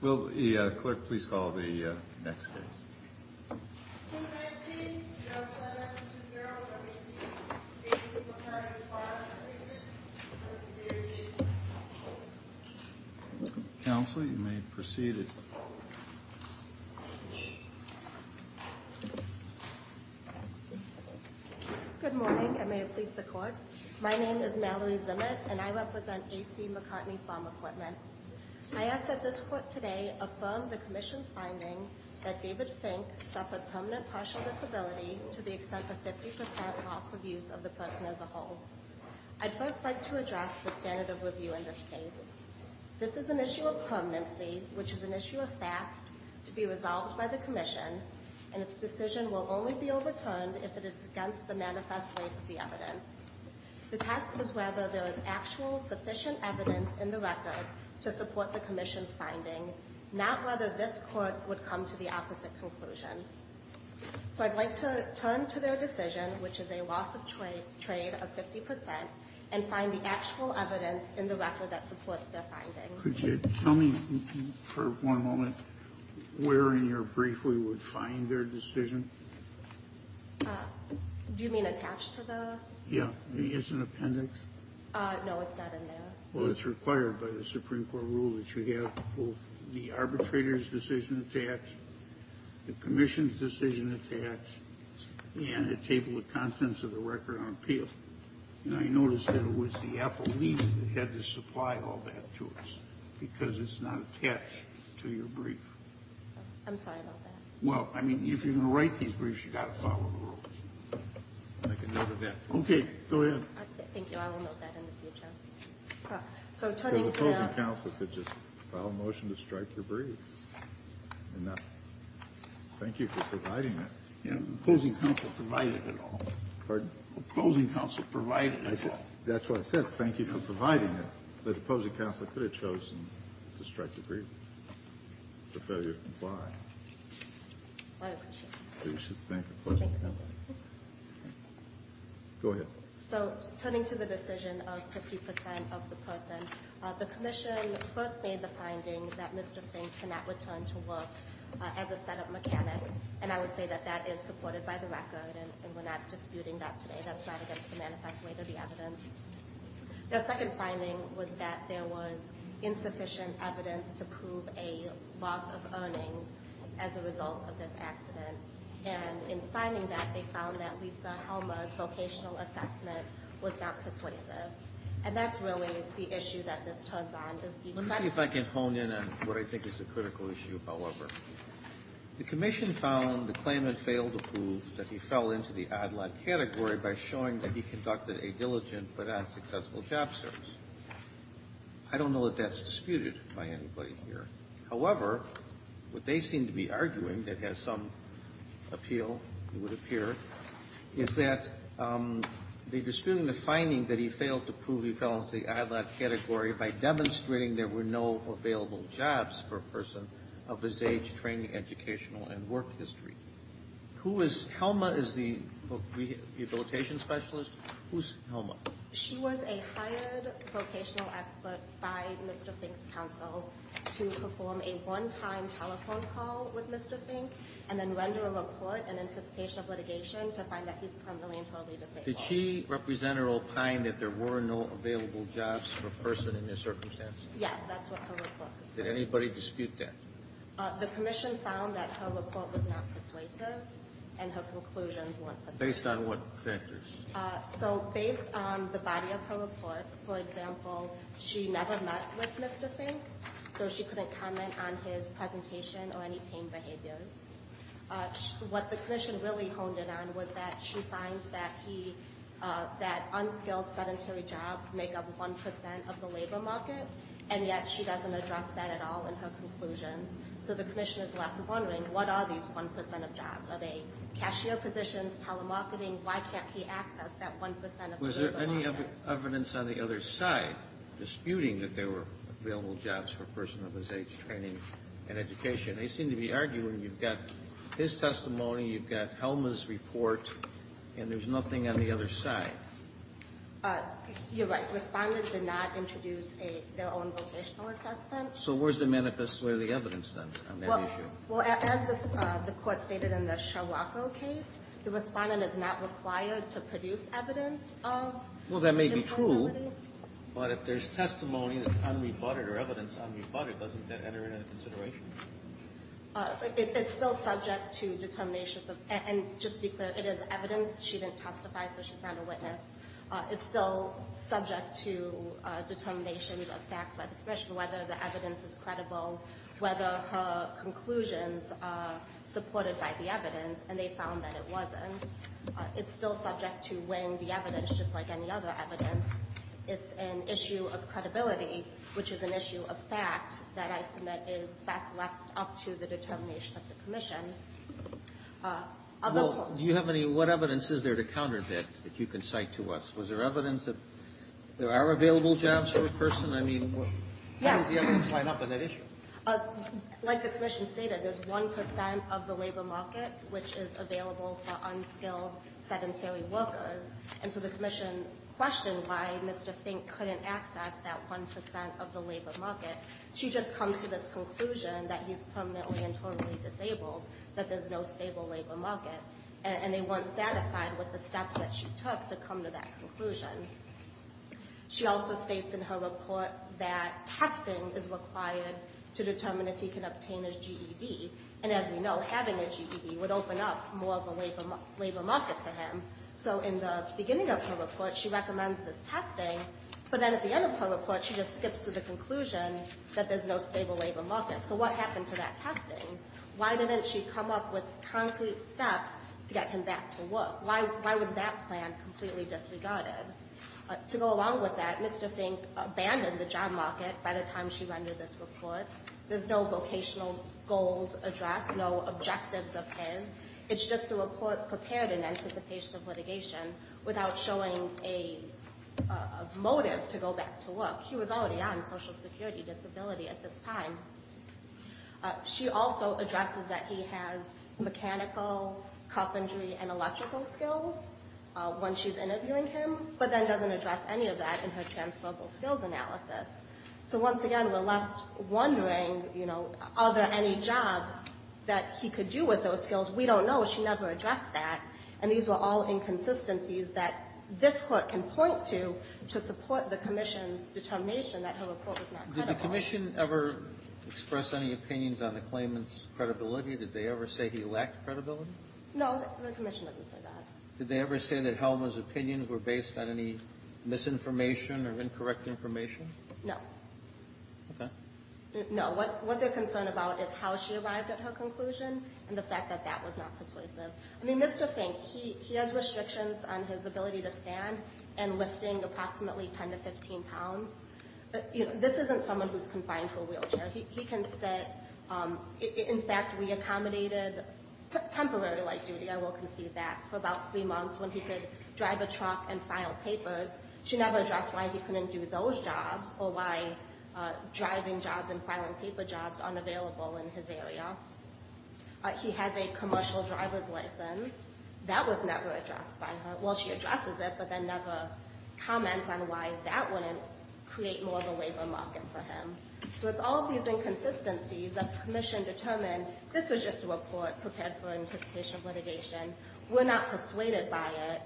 Will the clerk please call the next case. Counsel, you may proceed. Good morning, and may it please the court. My name is Mallory Zimmett, and I represent A.C. McCartney Farm Equipment. I ask that this court today affirm the commission's finding that David Fink suffered permanent partial disability to the extent of 50% loss of use of the person as a whole. I'd first like to address the standard of review in this case. This is an issue of permanency, which is an issue of fact, to be resolved by the commission, and its decision will only be overturned if it is against the manifest weight of the evidence. The test is whether there is actual sufficient evidence in the record to support the commission's finding, not whether this court would come to the opposite conclusion. So I'd like to turn to their decision, which is a loss of trade of 50%, and find the actual evidence in the record that supports their finding. Could you tell me, for one moment, where in your brief we would find their decision? Do you mean attached to the? Yeah. Is it an appendix? No, it's not in there. Well, it's required by the Supreme Court rule that you have both the arbitrator's decision attached, the commission's decision attached, and a table of contents of the record on appeal. And I noticed that it was the appellee that had to supply all that to us, because it's not attached to your brief. I'm sorry about that. Well, I mean, if you're going to write these briefs, you've got to follow the rules. Okay. Go ahead. Thank you. I will note that in the future. So turning to the... The opposing counsel could just file a motion to strike your brief. Thank you for providing that. The opposing counsel provided it all. Pardon? The opposing counsel provided it all. That's what I said. Thank you for providing it. The opposing counsel could have chosen to strike the brief for failure to comply. I appreciate that. You should thank the opposing counsel. Thank you. Go ahead. So turning to the decision of 50% of the person, the commission first made the finding that Mr. Fink cannot return to work as a setup mechanic, and I would say that that is supported by the record, and we're not disputing that today. That's not against the manifest way to the evidence. Their second finding was that there was insufficient evidence to prove a loss of earnings as a result of this accident, and in finding that, they found that Lisa Helmer's vocational assessment was not persuasive, and that's really the issue that this turns on. Let me see if I can hone in on what I think is a critical issue, however. The commission found the claimant failed to prove that he fell into the ad-lib category by showing that he conducted a diligent but unsuccessful job service. I don't know that that's disputed by anybody here. However, what they seem to be arguing that has some appeal, it would appear, is that they're disputing the finding that he failed to prove he fell into the ad-lib category by demonstrating there were no available jobs for a person of his age, training, educational, and work history. Who is Helmer is the rehabilitation specialist. Who's Helmer? She was a hired vocational expert by Mr. Fink's counsel to perform a one-time telephone call with Mr. Fink and then render a report in anticipation of litigation to find that he's permanently and totally disabled. Did she represent or opine that there were no available jobs for a person in this circumstance? Yes, that's what her report. Did anybody dispute that? The commission found that her report was not persuasive and her conclusions weren't persuasive. Based on what factors? So based on the body of her report, for example, she never met with Mr. Fink, so she couldn't comment on his presentation or any pain behaviors. What the commission really honed in on was that she finds that unskilled sedentary jobs make up 1% of the labor market, and yet she doesn't address that at all in her conclusions. So the commission is left wondering, what are these 1% of jobs? Are they cashier positions, telemarketing? Why can't he access that 1% of the labor market? Was there any evidence on the other side disputing that there were available jobs for a person of his age, training, and education? They seem to be arguing you've got his testimony, you've got Helmer's report, and there's nothing on the other side. You're right. Respondents did not introduce their own vocational assessment. So where's the manifest? Where's the evidence on that issue? Well, as the Court stated in the Sherlocko case, the Respondent is not required to produce evidence of disability. Well, that may be true, but if there's testimony that's unrebutted or evidence unrebutted, doesn't that enter into consideration? It's still subject to determinations of – and just to be clear, it is evidence. She didn't testify, so she's not a witness. It's still subject to determinations of fact by the Commission, whether the evidence is credible, whether her conclusions are supported by the evidence, and they found that it wasn't. It's still subject to weighing the evidence, just like any other evidence. It's an issue of credibility, which is an issue of fact, that I submit is best left up to the determination of the Commission. Well, do you have any – what evidence is there to counterfeit that you can cite to us? Was there evidence that there are available jobs for a person? I mean, how does the evidence line up on that issue? Yes. Like the Commission stated, there's 1 percent of the labor market which is available for unskilled sedentary workers. And so the Commission questioned why Mr. Fink couldn't access that 1 percent of the labor market. She just comes to this conclusion that he's permanently and totally disabled, that there's no stable labor market. And they weren't satisfied with the steps that she took to come to that conclusion. She also states in her report that testing is required to determine if he can obtain his GED. And as we know, having a GED would open up more of a labor market to him. So in the beginning of her report, she recommends this testing, but then at the end of her report, she just skips to the conclusion that there's no stable labor market. So what happened to that testing? Why didn't she come up with concrete steps to get him back to work? Why was that plan completely disregarded? To go along with that, Mr. Fink abandoned the job market by the time she rendered this report. There's no vocational goals addressed, no objectives of his. It's just a report prepared in anticipation of litigation without showing a motive to go back to work. He was already on Social Security Disability at this time. She also addresses that he has mechanical, carpentry, and electrical skills when she's interviewing him, but then doesn't address any of that in her transferable skills analysis. So once again, we're left wondering, you know, are there any jobs that he could do with those skills? We don't know. She never addressed that. And these were all inconsistencies that this Court can point to to support the Commission's determination that her report was not credible. Kennedy. Did the Commission ever express any opinions on the claimant's credibility? Did they ever say he lacked credibility? No, the Commission didn't say that. Did they ever say that Helmer's opinions were based on any misinformation or incorrect information? No. Okay. No. What they're concerned about is how she arrived at her conclusion and the fact that that was not persuasive. I mean, Mr. Fink, he has restrictions on his ability to stand and lifting approximately 10 to 15 pounds. This isn't someone who's confined to a wheelchair. He can sit. In fact, we accommodated temporary light duty, I will concede that, for about three months when he could drive a truck and file papers. She never addressed why he couldn't do those jobs or why driving jobs and filing paper jobs aren't available in his area. He has a commercial driver's license. That was never addressed by her. Well, she addresses it, but then never comments on why that wouldn't create more of a labor market for him. So it's all of these inconsistencies that the Commission determined this was just a report prepared for anticipation of litigation. We're not persuaded by it.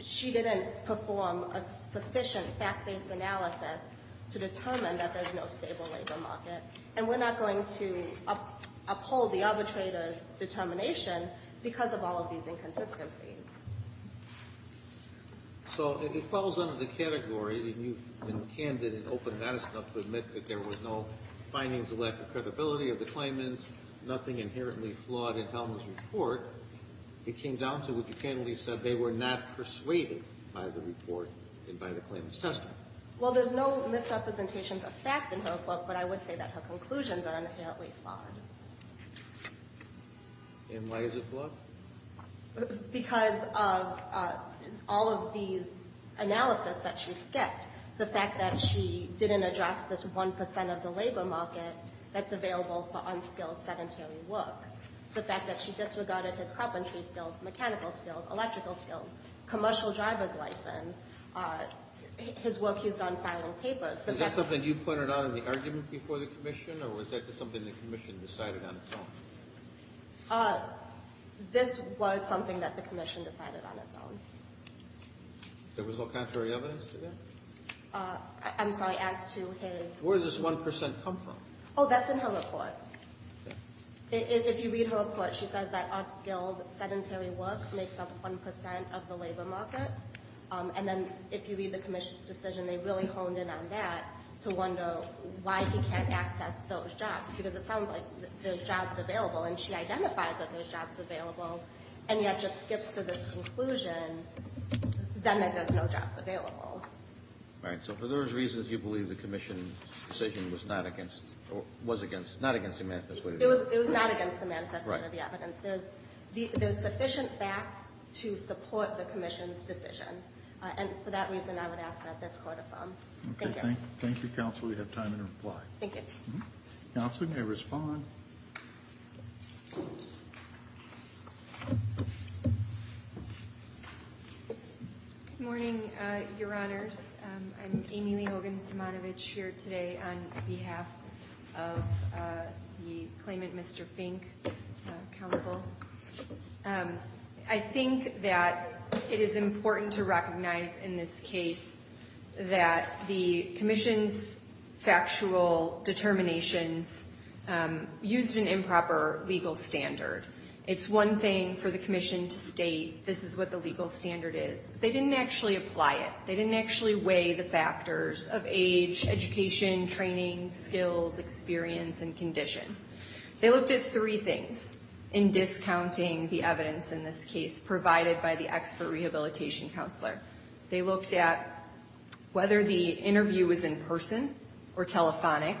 She didn't perform a sufficient fact-based analysis to determine that there's no stable labor market. And we're not going to uphold the arbitrator's determination because of all of these inconsistencies. So it falls under the category, and you've been candid and open and honest enough to admit that there was no findings of lack of credibility of the claimants, nothing inherently flawed in Hellman's report. It came down to what you candidly said, they were not persuaded by the report and by the claimant's testimony. Well, there's no misrepresentations of fact in her report, but I would say that her conclusions are inherently flawed. And why is it flawed? Because of all of these analyses that she skipped. The fact that she didn't address this 1 percent of the labor market that's available for unskilled sedentary work. The fact that she disregarded his carpentry skills, mechanical skills, electrical skills, commercial driver's license, his work he's done filing papers. Is that something you pointed out in the argument before the Commission, or was that just something the Commission decided on its own? This was something that the Commission decided on its own. There was no contrary evidence to that? I'm sorry, as to his... Where did this 1 percent come from? Oh, that's in her report. If you read her report, she says that unskilled sedentary work makes up 1 percent of the labor market. And then if you read the Commission's decision, they really honed in on that to wonder why he can't access those jobs. Because it sounds like there's jobs available, and she identifies that there's jobs available, and yet just skips to this conclusion that there's no jobs available. So for those reasons, you believe the Commission's decision was not against the manifesto? It was not against the manifesto or the evidence. There's sufficient facts to support the Commission's decision. And for that reason, I would ask that this court affirm. Thank you. Thank you, Counsel. We have time to reply. Thank you. Counsel, you may respond. Thank you. Good morning, Your Honors. I'm Amy Lee Hogan Simonovich here today on behalf of the claimant, Mr. Fink, Counsel. I think that it is important to recognize in this case that the Commission's factual determinations used an improper legal standard. It's one thing for the Commission to state this is what the legal standard is. They didn't actually apply it. They didn't actually weigh the factors of age, education, training, skills, experience, and condition. They looked at three things in discounting the evidence in this case provided by the expert rehabilitation counselor. They looked at whether the interview was in person or telephonic,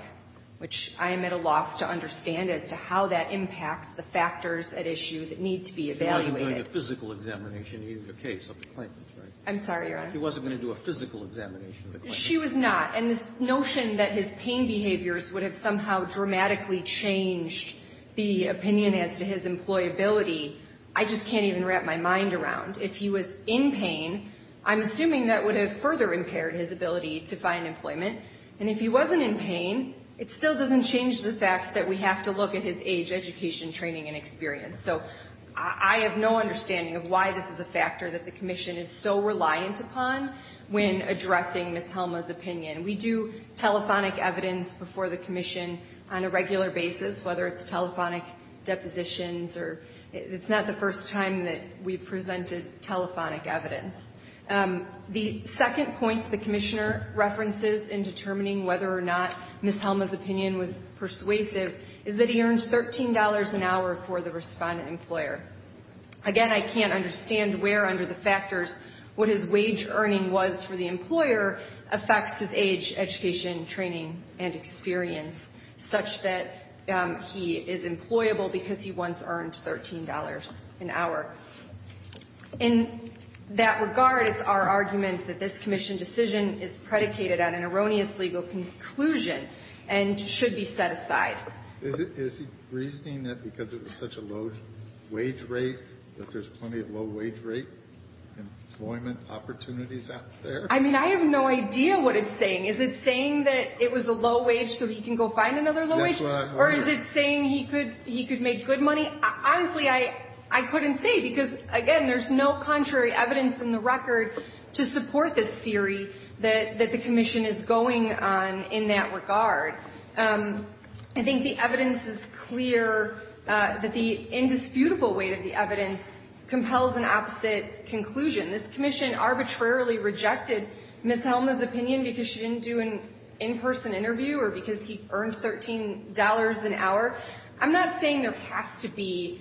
which I am at a loss to understand as to how that impacts the factors at issue that need to be evaluated. He wasn't doing a physical examination either case of the claimant, right? I'm sorry, Your Honor. He wasn't going to do a physical examination of the claimant. She was not. And this notion that his pain behaviors would have somehow dramatically changed the opinion as to his employability, I just can't even wrap my mind around. If he was in pain, I'm assuming that would have further impaired his ability to find employment. And if he wasn't in pain, it still doesn't change the fact that we have to look at his age, education, training, and experience. So I have no understanding of why this is a factor that the Commission is so reliant upon when addressing Ms. Helma's opinion. We do telephonic evidence before the Commission on a regular basis, whether it's telephonic depositions or it's not the first time that we've presented telephonic evidence. The second point the Commissioner references in determining whether or not Ms. Helma's opinion was persuasive is that he earns $13 an hour for the respondent employer. Again, I can't understand where under the factors what his wage earning was for the employer affects his age, education, training, and experience such that he is employable because he once earned $13 an hour. In that regard, it's our argument that this Commission decision is predicated on an erroneous legal conclusion and should be set aside. Is he reasoning that because it was such a low wage rate that there's plenty of low wage rate employment opportunities out there? I mean, I have no idea what it's saying. Is it saying that it was a low wage so he can go find another low wage? Or is it saying he could make good money? Honestly, I couldn't say because, again, there's no contrary evidence in the record to support this theory that the Commission is going on in that regard. I think the evidence is clear that the indisputable weight of the evidence compels an opposite conclusion. This Commission arbitrarily rejected Ms. Helma's opinion because she didn't do an in-person interview or because he earned $13 an hour. I'm not saying there has to be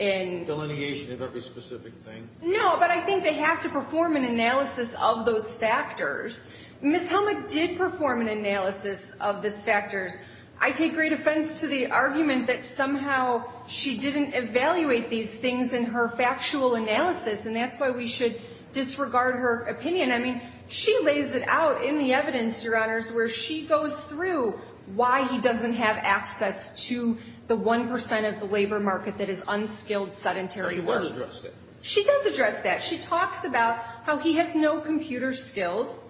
a delineation of every specific thing. No, but I think they have to perform an analysis of those factors. Ms. Helma did perform an analysis of those factors. I take great offense to the argument that somehow she didn't evaluate these things in her factual analysis, and that's why we should disregard her opinion. I mean, she lays it out in the evidence, Your Honors, where she goes through why he doesn't have access to the 1 percent of the labor market that is unskilled, sedentary work. She does address that. She talks about how he has no computer skills.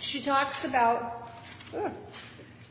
She talks about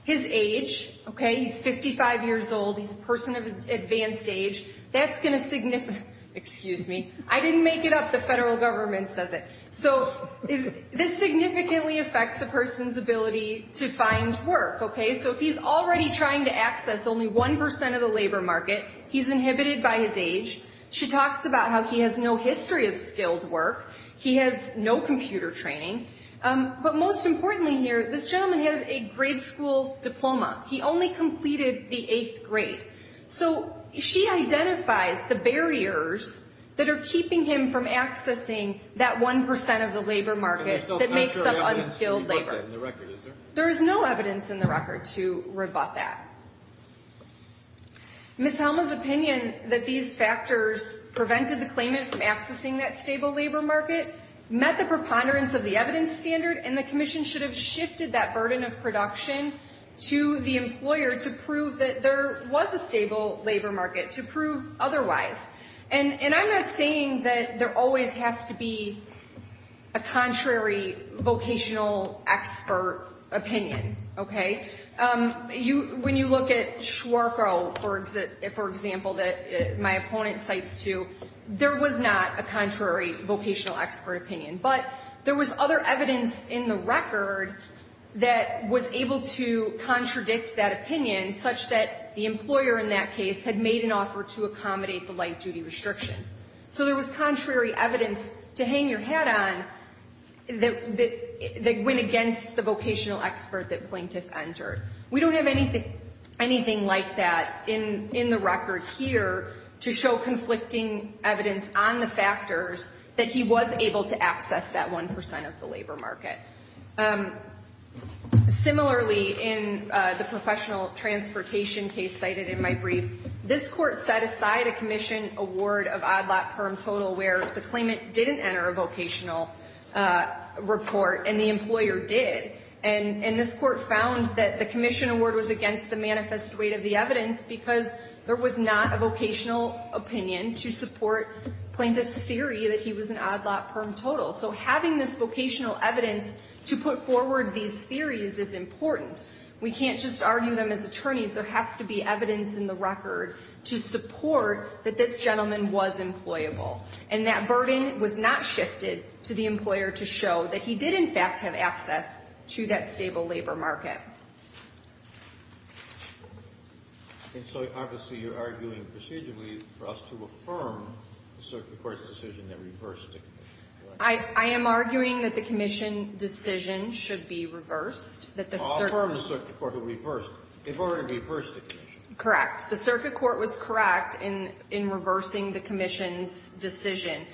his age, okay? He's 55 years old. He's a person of advanced age. That's going to – excuse me. I didn't make it up. The federal government says it. So this significantly affects the person's ability to find work, okay? So if he's already trying to access only 1 percent of the labor market, he's inhibited by his age. She talks about how he has no history of skilled work. He has no computer training. But most importantly here, this gentleman has a grade school diploma. He only completed the eighth grade. So she identifies the barriers that are keeping him from accessing that 1 percent of the labor market that makes him unskilled labor. There is no evidence in the record to rebut that. Ms. Helma's opinion that these factors prevented the claimant from accessing that stable labor market met the preponderance of the evidence standard, and the commission should have shifted that burden of production to the employer to prove that there was a stable labor market, to prove otherwise. And I'm not saying that there always has to be a contrary vocational expert opinion, okay? When you look at Schwarkow, for example, that my opponent cites too, there was not a contrary vocational expert opinion. But there was other evidence in the record that was able to contradict that opinion, such that the employer in that case had made an offer to accommodate the light-duty restrictions. So there was contrary evidence to hang your hat on that went against the vocational expert that Plaintiff entered. We don't have anything like that in the record here to show conflicting evidence on the factors that he was able to access that 1 percent of the labor market. Similarly, in the professional transportation case cited in my brief, this Court set aside a commission award of odd-lot perm total where the claimant didn't enter a vocational report, and the employer did. And this Court found that the commission award was against the manifest weight of the evidence because there was not a vocational opinion to support Plaintiff's theory that he was an odd-lot perm total. So having this vocational evidence to put forward these theories is important. We can't just argue them as attorneys. There has to be evidence in the record to support that this gentleman was employable. And that burden was not shifted to the employer to show that he did, in fact, have access to that stable labor market. And so, obviously, you're arguing procedurally for us to affirm the circuit court's decision that reversed it, correct? I am arguing that the commission decision should be reversed. Well, affirm the circuit court who reversed it. They've already reversed the commission. Correct. The circuit court was correct in reversing the commission's decision.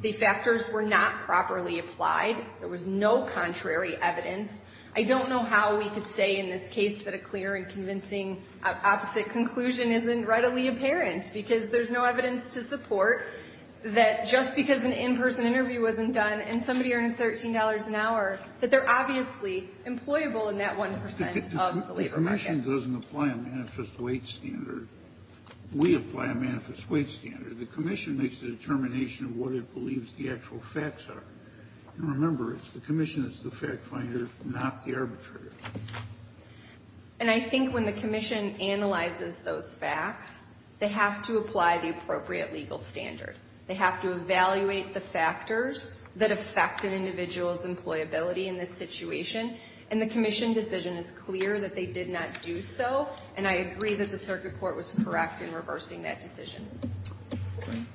The factors were not properly applied. There was no contrary evidence. I don't know how we could say in this case that a clear and convincing opposite conclusion isn't readily apparent, because there's no evidence to support that just because an in-person interview wasn't done and somebody earned $13 an hour, that they're obviously employable in that 1 percent of the labor market. The commission doesn't apply a manifest weight standard. We apply a manifest weight standard. The commission makes the determination of what it believes the actual facts are. And remember, the commission is the fact finder, not the arbitrator. And I think when the commission analyzes those facts, they have to apply the appropriate legal standard. They have to evaluate the factors that affect an individual's employability in this situation. And the commission decision is clear that they did not do so, and I agree that the circuit court was correct in reversing that decision.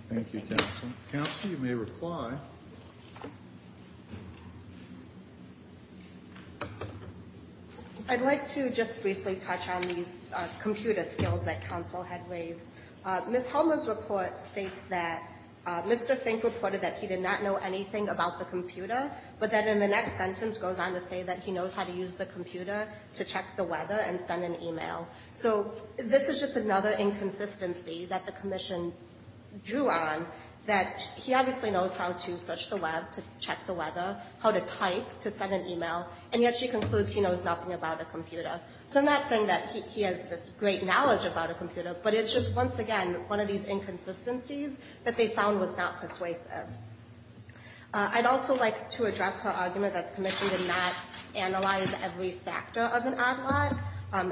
Thank you, Counsel. Counsel, you may reply. I'd like to just briefly touch on these computer skills that counsel had raised. Ms. Helmer's report states that Mr. Fink reported that he did not know anything about the computer, but that in the next sentence goes on to say that he knows how to use the computer to check the weather and send an e-mail. So this is just another inconsistency that the commission drew on, that he obviously knows how to search the web to check the weather, how to type to send an e-mail, and yet she concludes he knows nothing about a computer. So I'm not saying that he has this great knowledge about a computer, but it's just, once again, one of these inconsistencies that they found was not persuasive. I'd also like to address her argument that the commission did not analyze every factor of an odd lot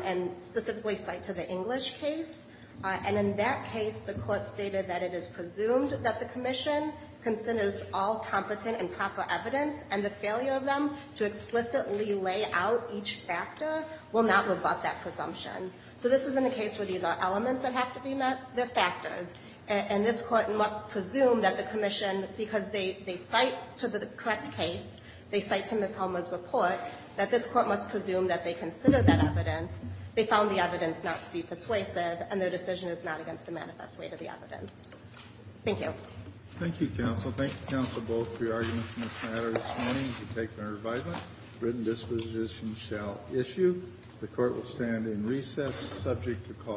and specifically cite to the English case. And in that case, the Court stated that it is presumed that the commission considers all competent and proper evidence, and the failure of them to explicitly lay out each factor will not rebut that presumption. So this isn't a case where these are elements that have to be met. They're factors. And this Court must presume that the commission, because they cite to the correct case, they cite to Ms. Helmer's report, that this Court must presume that they consider that evidence. They found the evidence not to be persuasive, and their decision is not against the manifest weight of the evidence. Thank you. Kennedy. Thank you, counsel. Thank you, counsel, both, for your arguments in this matter. This hearing is to take order by the written disposition shall issue. The Court will stand in recess subject to call.